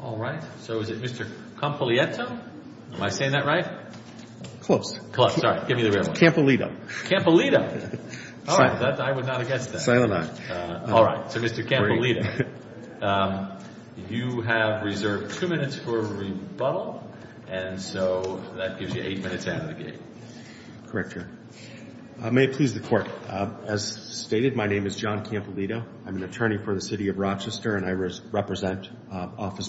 Alright, so is it Mr. Compaglietto? Am I saying that right? Closed. Closed, sorry. Give me the real one. Campolieto. Alright. I would not have guessed that. Silent eye. Alright, so Mr. Campolieto, you have reserved two minutes for rebuttal, and so that gives you eight minutes out of the game. Correct, Your Honor. May it please the Court, as stated, my name is John Campolieto. I'm an attorney for the City of Rochester, and I represent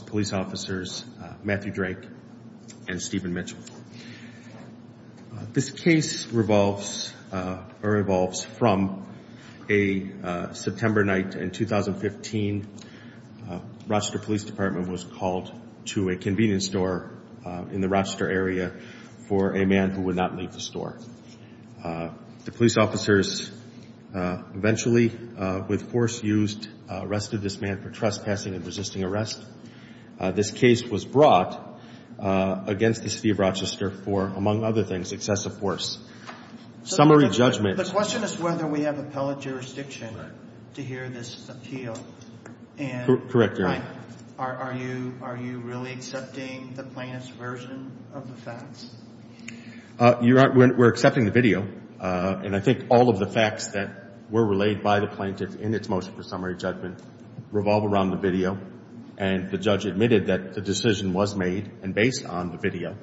police officers Matthew Drake and Stephen Mitchell. This case revolves from a September night in 2015. Rochester Police Department was called to a convenience store in the Rochester area for a man who would not leave the store. The police officers eventually, with force used, arrested this man for trespassing and resisting arrest. This case was brought against the City of Rochester for, among other things, excessive force. Summary judgment. The question is whether we have appellate jurisdiction to hear this appeal. Correct, Your Honor. Are you really accepting the plaintiff's version of the facts? Your Honor, we're accepting the video. And I think all of the facts that were relayed by the plaintiff in its motion for summary judgment revolve around the video. And the judge admitted that the decision was made and based on the video.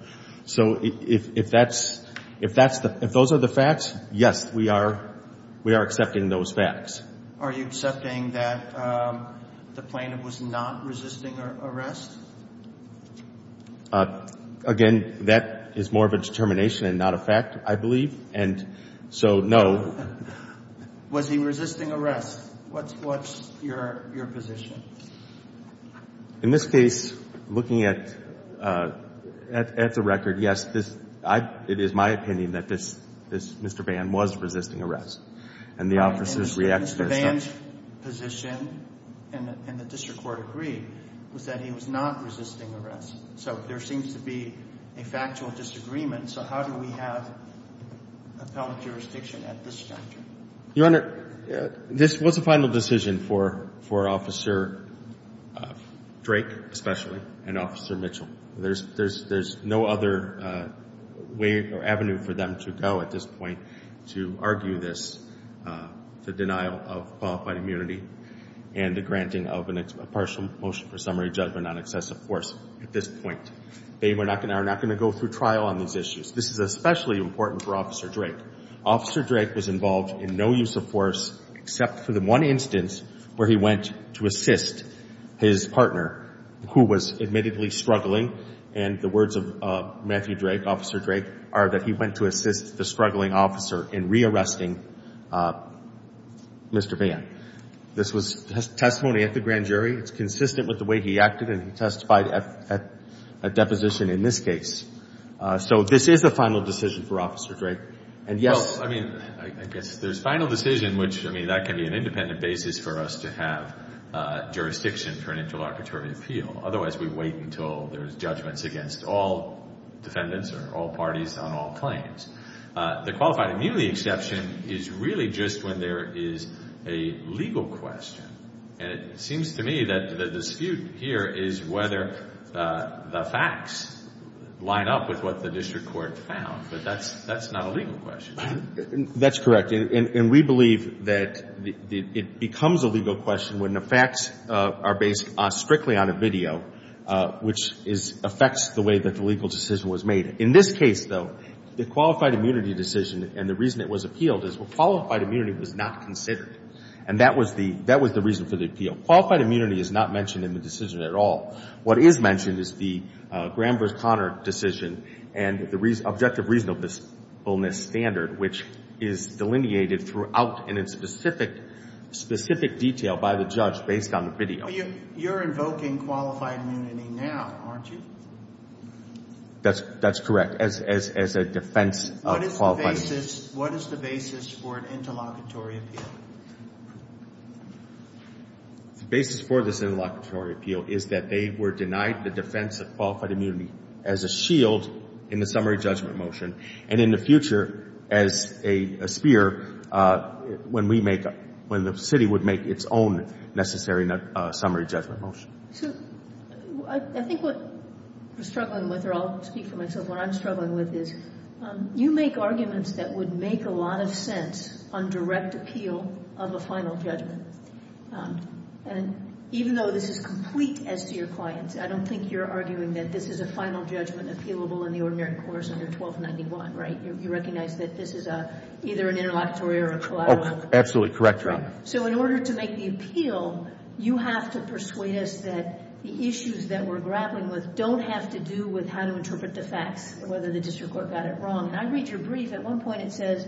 So if that's the – if those are the facts, yes, we are accepting those facts. Are you accepting that the plaintiff was not resisting arrest? Again, that is more of a determination and not a fact, I believe. And so, no. Was he resisting arrest? What's your position? In this case, looking at the record, yes, it is my opinion that this Mr. Vann was resisting arrest. And the officers reacted as such. Vann's position, and the district court agreed, was that he was not resisting arrest. So there seems to be a factual disagreement. So how do we have appellate jurisdiction at this juncture? Your Honor, this was a final decision for Officer Drake, especially, and Officer Mitchell. There's no other way or avenue for them to go at this point to argue this, the denial of qualified immunity and the granting of a partial motion for summary judgment on excessive force at this point. They are not going to go through trial on these issues. This is especially important for Officer Drake. Officer Drake was involved in no use of force except for the one instance where he went to assist his partner, who was admittedly struggling, and the words of Matthew Drake, Officer Drake, are that he went to assist the struggling officer in rearresting Mr. Vann. This was testimony at the grand jury. It's consistent with the way he acted, and he testified at deposition in this case. So this is a final decision for Officer Drake. And yes. Well, I mean, I guess there's final decision, which, I mean, that can be an independent basis for us to have jurisdiction for an interlocutory appeal. Otherwise, we wait until there's judgments against all defendants or all parties on all claims. The qualified immunity exception is really just when there is a legal question. And it seems to me that the dispute here is whether the facts line up with what the district court found. But that's not a legal question. That's correct. And we believe that it becomes a legal question when the facts are based strictly on a video, which affects the way that the legal decision was made. In this case, though, the qualified immunity decision and the reason it was appealed is qualified immunity was not considered. And that was the reason for the appeal. Qualified immunity is not mentioned in the decision at all. What is mentioned is the Graham v. Conner decision and the objective reasonableness standard, which is delineated throughout in a specific detail by the judge based on the video. You're invoking qualified immunity now, aren't you? That's correct, as a defense of qualified immunity. What is the basis for an interlocutory appeal? The basis for this interlocutory appeal is that they were denied the defense of qualified immunity as a shield in the summary judgment motion, and in the future as a spear when we make up ñ when the city would make its own necessary summary judgment motion. So I think what we're struggling with, or I'll speak for myself, what I'm struggling with is you make arguments that would make a lot of sense on direct appeal of a final judgment. And even though this is complete as to your clients, I don't think you're arguing that this is a final judgment appealable in the ordinary course under 1291, right? You recognize that this is either an interlocutory or a collateral. Absolutely correct, Your Honor. So in order to make the appeal, you have to persuade us that the issues that we're grappling with don't have to do with how to interpret the facts, whether the district court got it wrong. And I read your brief. At one point it says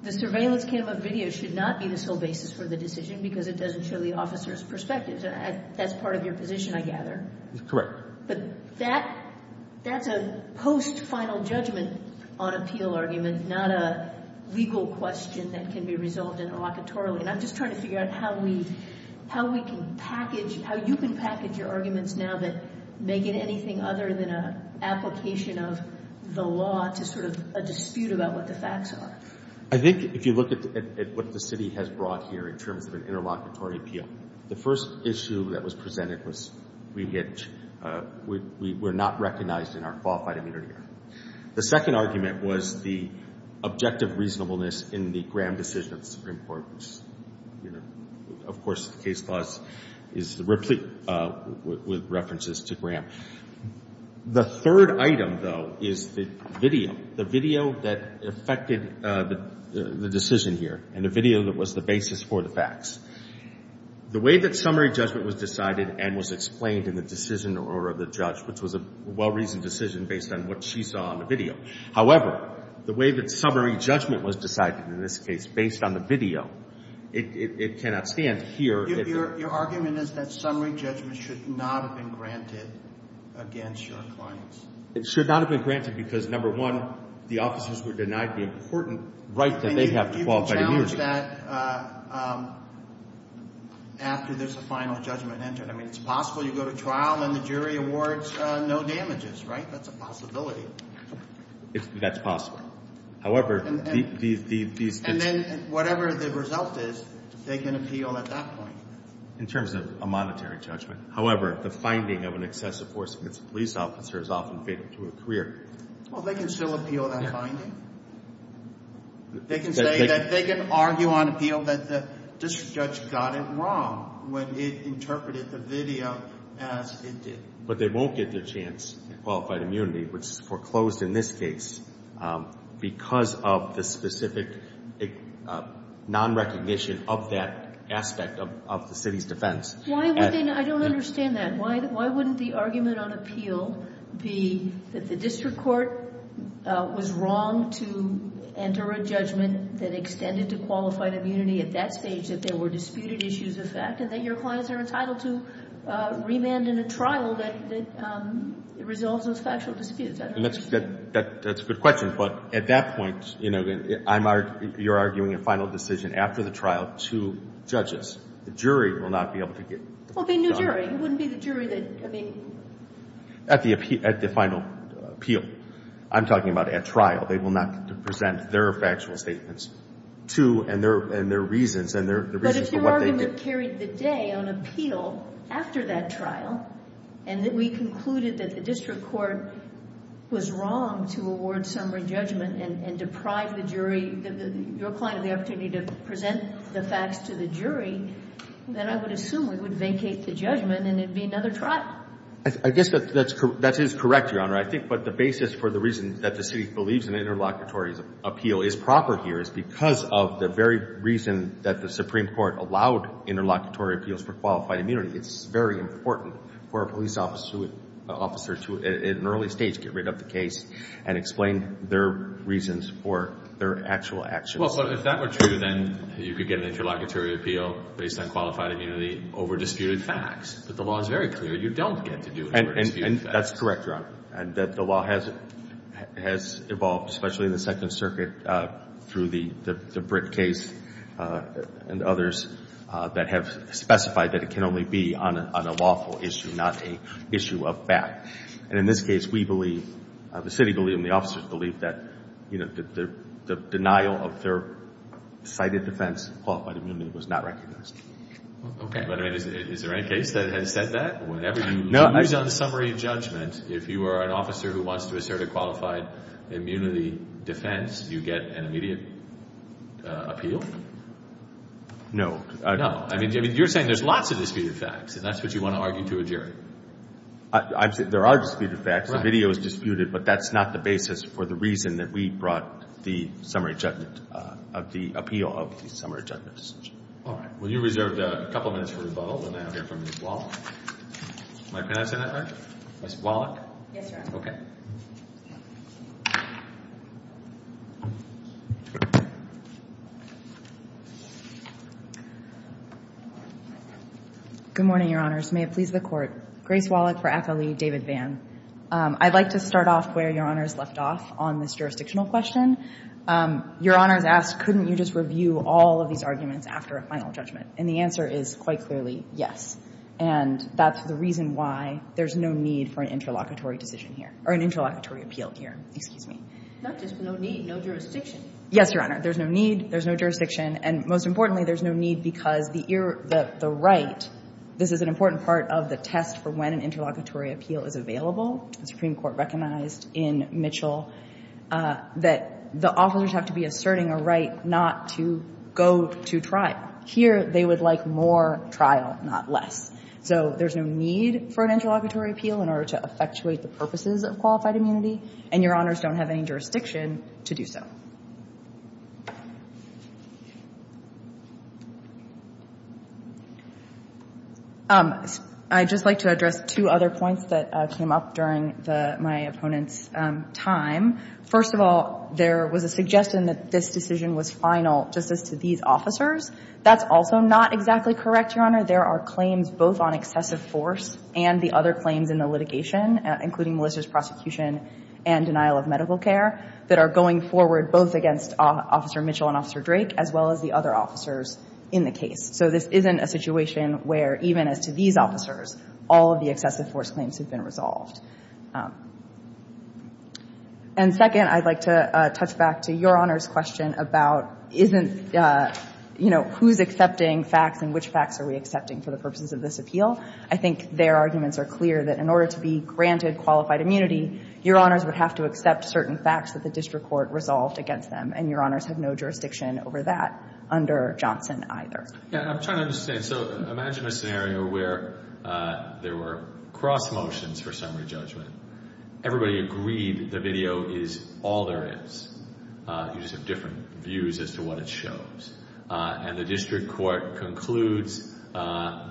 the surveillance camera video should not be the sole basis for the decision because it doesn't show the officer's perspective. That's part of your position, I gather. But that's a post-final judgment on appeal argument, not a legal question that can be resolved interlocutorily. And I'm just trying to figure out how we can package, how you can package your arguments now that make it anything other than an application of the law to sort of dispute about what the facts are. I think if you look at what the city has brought here in terms of an interlocutory appeal, the first issue that was presented was we were not recognized in our qualified immunity. The second argument was the objective reasonableness in the Graham decision of the Supreme Court. Of course, the case clause is replete with references to Graham. The third item, though, is the video, the video that affected the decision here, and the video that was the basis for the facts. The way that summary judgment was decided and was explained in the decision or the judge, which was a well-reasoned decision based on what she saw on the video. However, the way that summary judgment was decided in this case based on the video, it cannot stand here. Your argument is that summary judgment should not have been granted against your clients. It should not have been granted because, number one, the officers were denied the important right that they have to qualify immunity. You can judge that after there's a final judgment entered. I mean, it's possible you go to trial and the jury awards no damages, right? That's a possibility. That's possible. However, these – And then whatever the result is, they can appeal at that point. In terms of a monetary judgment. However, the finding of an excessive force against a police officer is often fatal to a career. Well, they can still appeal that finding. They can say that they can argue on appeal that the district judge got it wrong when it interpreted the video as it did. But they won't get their chance at qualified immunity, which is foreclosed in this case because of the specific nonrecognition of that aspect of the city's defense. Why would they not? I don't understand that. Why wouldn't the argument on appeal be that the district court was wrong to enter a judgment that extended to qualified immunity at that stage, that there were disputed issues of fact, and that your clients are entitled to remand in a trial that resolves those factual disputes? I don't understand. That's a good question. But at that point, you know, you're arguing a final decision after the trial to judges. The jury will not be able to get the final judgment. Well, it'd be a new jury. It wouldn't be the jury that, I mean. At the final appeal. I'm talking about at trial. They will not present their factual statements to and their reasons and the reasons for what they did. But if your argument carried the day on appeal after that trial and that we concluded that the district court was wrong to award summary judgment and deprive the jury, your client, of the opportunity to present the facts to the jury, then I would assume we would vacate the judgment and it would be another trial. I guess that is correct, Your Honor. I think the basis for the reason that the city believes an interlocutory appeal is proper here is because of the very reason that the Supreme Court allowed interlocutory appeals for qualified immunity. It's very important for a police officer to, at an early stage, get rid of the case and explain their reasons for their actual actions. Well, but if that were true, then you could get an interlocutory appeal based on qualified immunity over disputed facts. But the law is very clear. You don't get to do it over disputed facts. And that's correct, Your Honor. The law has evolved, especially in the Second Circuit, through the Britt case and others that have specified that it can only be on a lawful issue, not an issue of fact. And in this case, we believe, the city believes, and the officers believe, that the denial of their cited defense of qualified immunity was not recognized. Okay. But, I mean, is there any case that has said that? Whenever you lose on summary judgment, if you are an officer who wants to assert a qualified immunity defense, do you get an immediate appeal? No. No. I mean, you're saying there's lots of disputed facts, and that's what you want to argue to a jury. There are disputed facts. Right. The video is disputed, but that's not the basis for the reason that we brought the summary judgment of the appeal of the summary judgment decision. All right. Well, you reserved a couple minutes for rebuttal. Let me now hear from Ms. Wallach. Am I pronouncing that right? Ms. Wallach? Yes, Your Honor. Okay. Good morning, Your Honors. May it please the Court. Grace Wallach for Attlee, David Vann. I'd like to start off where Your Honors left off on this jurisdictional question. Your Honors asked, couldn't you just review all of these arguments after a final judgment? And the answer is, quite clearly, yes. And that's the reason why there's no need for an interlocutory decision here, or an interlocutory appeal here. Excuse me. Not just no need, no jurisdiction. Yes, Your Honor. There's no need. There's no jurisdiction. And most importantly, there's no need because the right, this is an important part of the test for when an interlocutory appeal is available. The Supreme Court recognized in Mitchell that the officers have to be asserting a right not to go to trial. Here, they would like more trial, not less. So there's no need for an interlocutory appeal in order to effectuate the purposes of qualified immunity. And Your Honors don't have any jurisdiction to do so. I'd just like to address two other points that came up during my opponent's time. First of all, there was a suggestion that this decision was final just as to these officers. That's also not exactly correct, Your Honor. There are claims both on excessive force and the other claims in the litigation, including Melissa's prosecution and denial of medical care, that are going forward both against Officer Mitchell and Officer Drake as well as the other officers in the case. So this isn't a situation where even as to these officers, all of the excessive force claims have been resolved. And second, I'd like to touch back to Your Honor's question about isn't, you know, who's accepting facts and which facts are we accepting? For the purposes of this appeal, I think their arguments are clear that in order to be granted qualified immunity, Your Honors would have to accept certain facts that the district court resolved against them. And Your Honors have no jurisdiction over that under Johnson either. Yeah, I'm trying to understand. So imagine a scenario where there were cross motions for summary judgment. Everybody agreed the video is all there is. You just have different views as to what it shows. And the district court concludes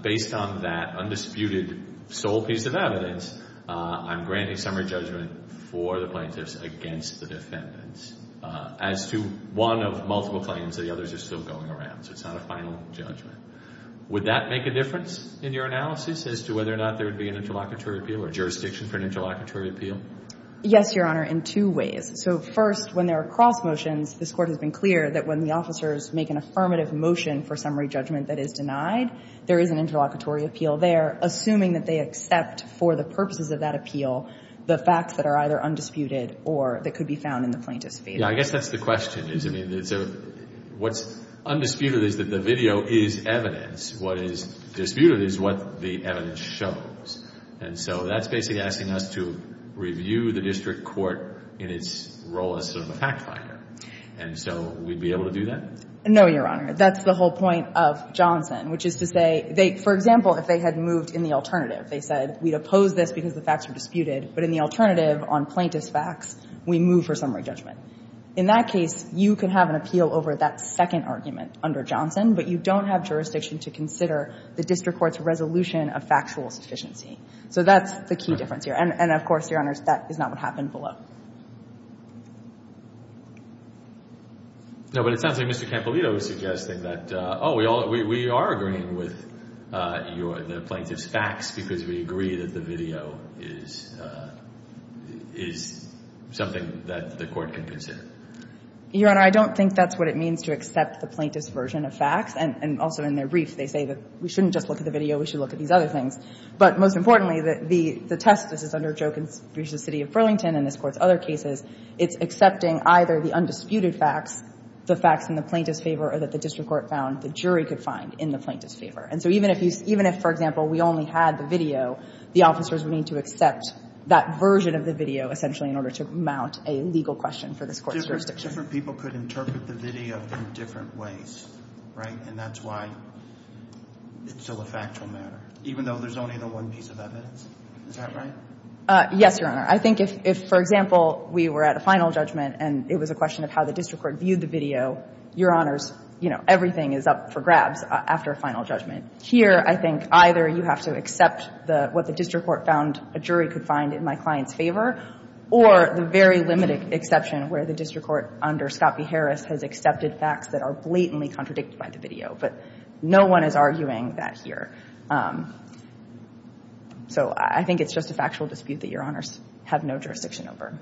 based on that undisputed sole piece of evidence, I'm granting summary judgment for the plaintiffs against the defendants. As to one of multiple claims, the others are still going around. So it's not a final judgment. Would that make a difference in your analysis as to whether or not there would be an interlocutory appeal or jurisdiction for an interlocutory appeal? Yes, Your Honor, in two ways. So first, when there are cross motions, this Court has been clear that when the officers make an affirmative motion for summary judgment that is denied, there is an interlocutory appeal there, assuming that they accept for the purposes of that appeal the facts that are either undisputed or that could be found in the plaintiff's favor. Yeah, I guess that's the question. I mean, what's undisputed is that the video is evidence. What is disputed is what the evidence shows. And so that's basically asking us to review the district court in its role as sort of a fact finder. And so we'd be able to do that? No, Your Honor. That's the whole point of Johnson, which is to say they, for example, if they had moved in the alternative, they said we'd oppose this because the facts are disputed, but in the alternative on plaintiff's facts, we move for summary judgment. In that case, you could have an appeal over that second argument under Johnson, but you don't have jurisdiction to consider the district court's resolution of factual sufficiency. So that's the key difference here. And of course, Your Honor, that is not what happened below. No, but it sounds like Mr. Campolito was suggesting that, oh, we are agreeing with the plaintiff's facts because we agree that the video is something that the court can consider. Your Honor, I don't think that's what it means to accept the plaintiff's version of facts. And also in their brief, they say that we shouldn't just look at the video. We should look at these other things. But most importantly, the test, this is under Joe Conspucious' City of Burlington and this Court's other cases, it's accepting either the undisputed facts, the facts in the plaintiff's favor, or that the district court found the jury could find in the plaintiff's favor. And so even if you – even if, for example, we only had the video, the officers would need to accept that version of the video essentially in order to mount a legal question for this Court's jurisdiction. Different people could interpret the video in different ways, right? And that's why it's still a factual matter, even though there's only the one piece of evidence. Is that right? Yes, Your Honor. I think if, for example, we were at a final judgment and it was a question of how the district court viewed the video, Your Honors, you know, everything is up for grabs after a final judgment. Here, I think either you have to accept what the district court found a jury could find in my client's favor or the very limited exception where the district court under Scott v. Harris has accepted facts that are blatantly contradicted by the video. But no one is arguing that here. So I think it's just a factual dispute that Your Honors have no jurisdiction over.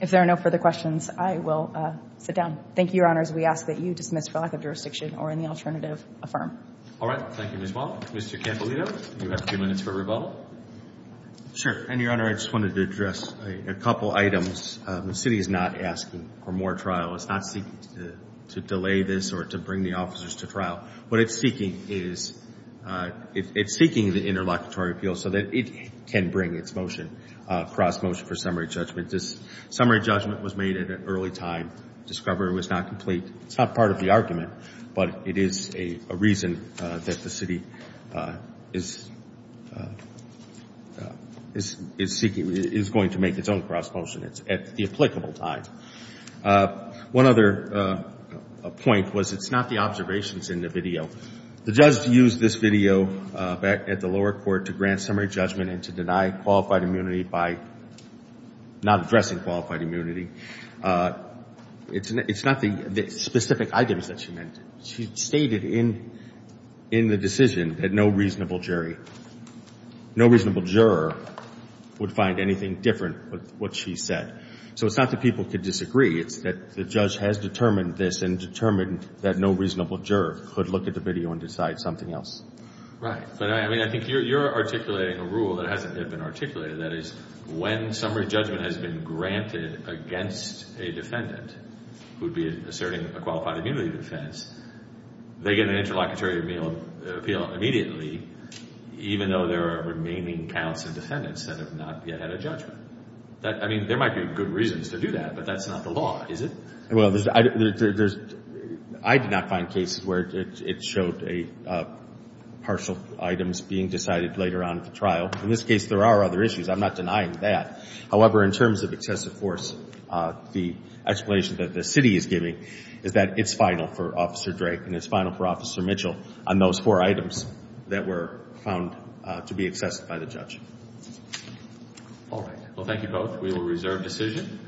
If there are no further questions, I will sit down. Thank you, Your Honors. We ask that you dismiss for lack of jurisdiction or any alternative, affirm. All right. Thank you, Ms. Wall. Mr. Campolito, you have a few minutes for rebuttal. Sure. And, Your Honor, I just wanted to address a couple items. The city is not asking for more trial. It's not seeking to delay this or to bring the officers to trial. What it's seeking is it's seeking the interlocutory appeal so that it can bring its motion, cross motion for summary judgment. This summary judgment was made at an early time. Discovery was not complete. It's not part of the argument, but it is a reason that the city is seeking, is going to make its own cross motion at the applicable time. One other point was it's not the observations in the video. The judge used this video back at the lower court to grant summary judgment and to deny qualified immunity by not addressing qualified immunity. It's not the specific items that she meant. She stated in the decision that no reasonable jury, no reasonable juror would find anything different with what she said. So it's not that people could disagree. It's that the judge has determined this and determined that no reasonable juror could look at the video and decide something else. Right. But, I mean, I think you're articulating a rule that hasn't been articulated. That is, when summary judgment has been granted against a defendant who would be asserting a qualified immunity defense, they get an interlocutory appeal immediately, even though there are remaining counts of defendants that have not yet had a judgment. I mean, there might be good reasons to do that, but that's not the law, is it? Well, I did not find cases where it showed partial items being decided later on at the trial. In this case, there are other issues. I'm not denying that. However, in terms of excessive force, the explanation that the city is giving is that it's final for Officer Drake and it's final for Officer Mitchell on those four items that were found to be excessive by the judge. All right. Well, thank you both. We will reserve decision.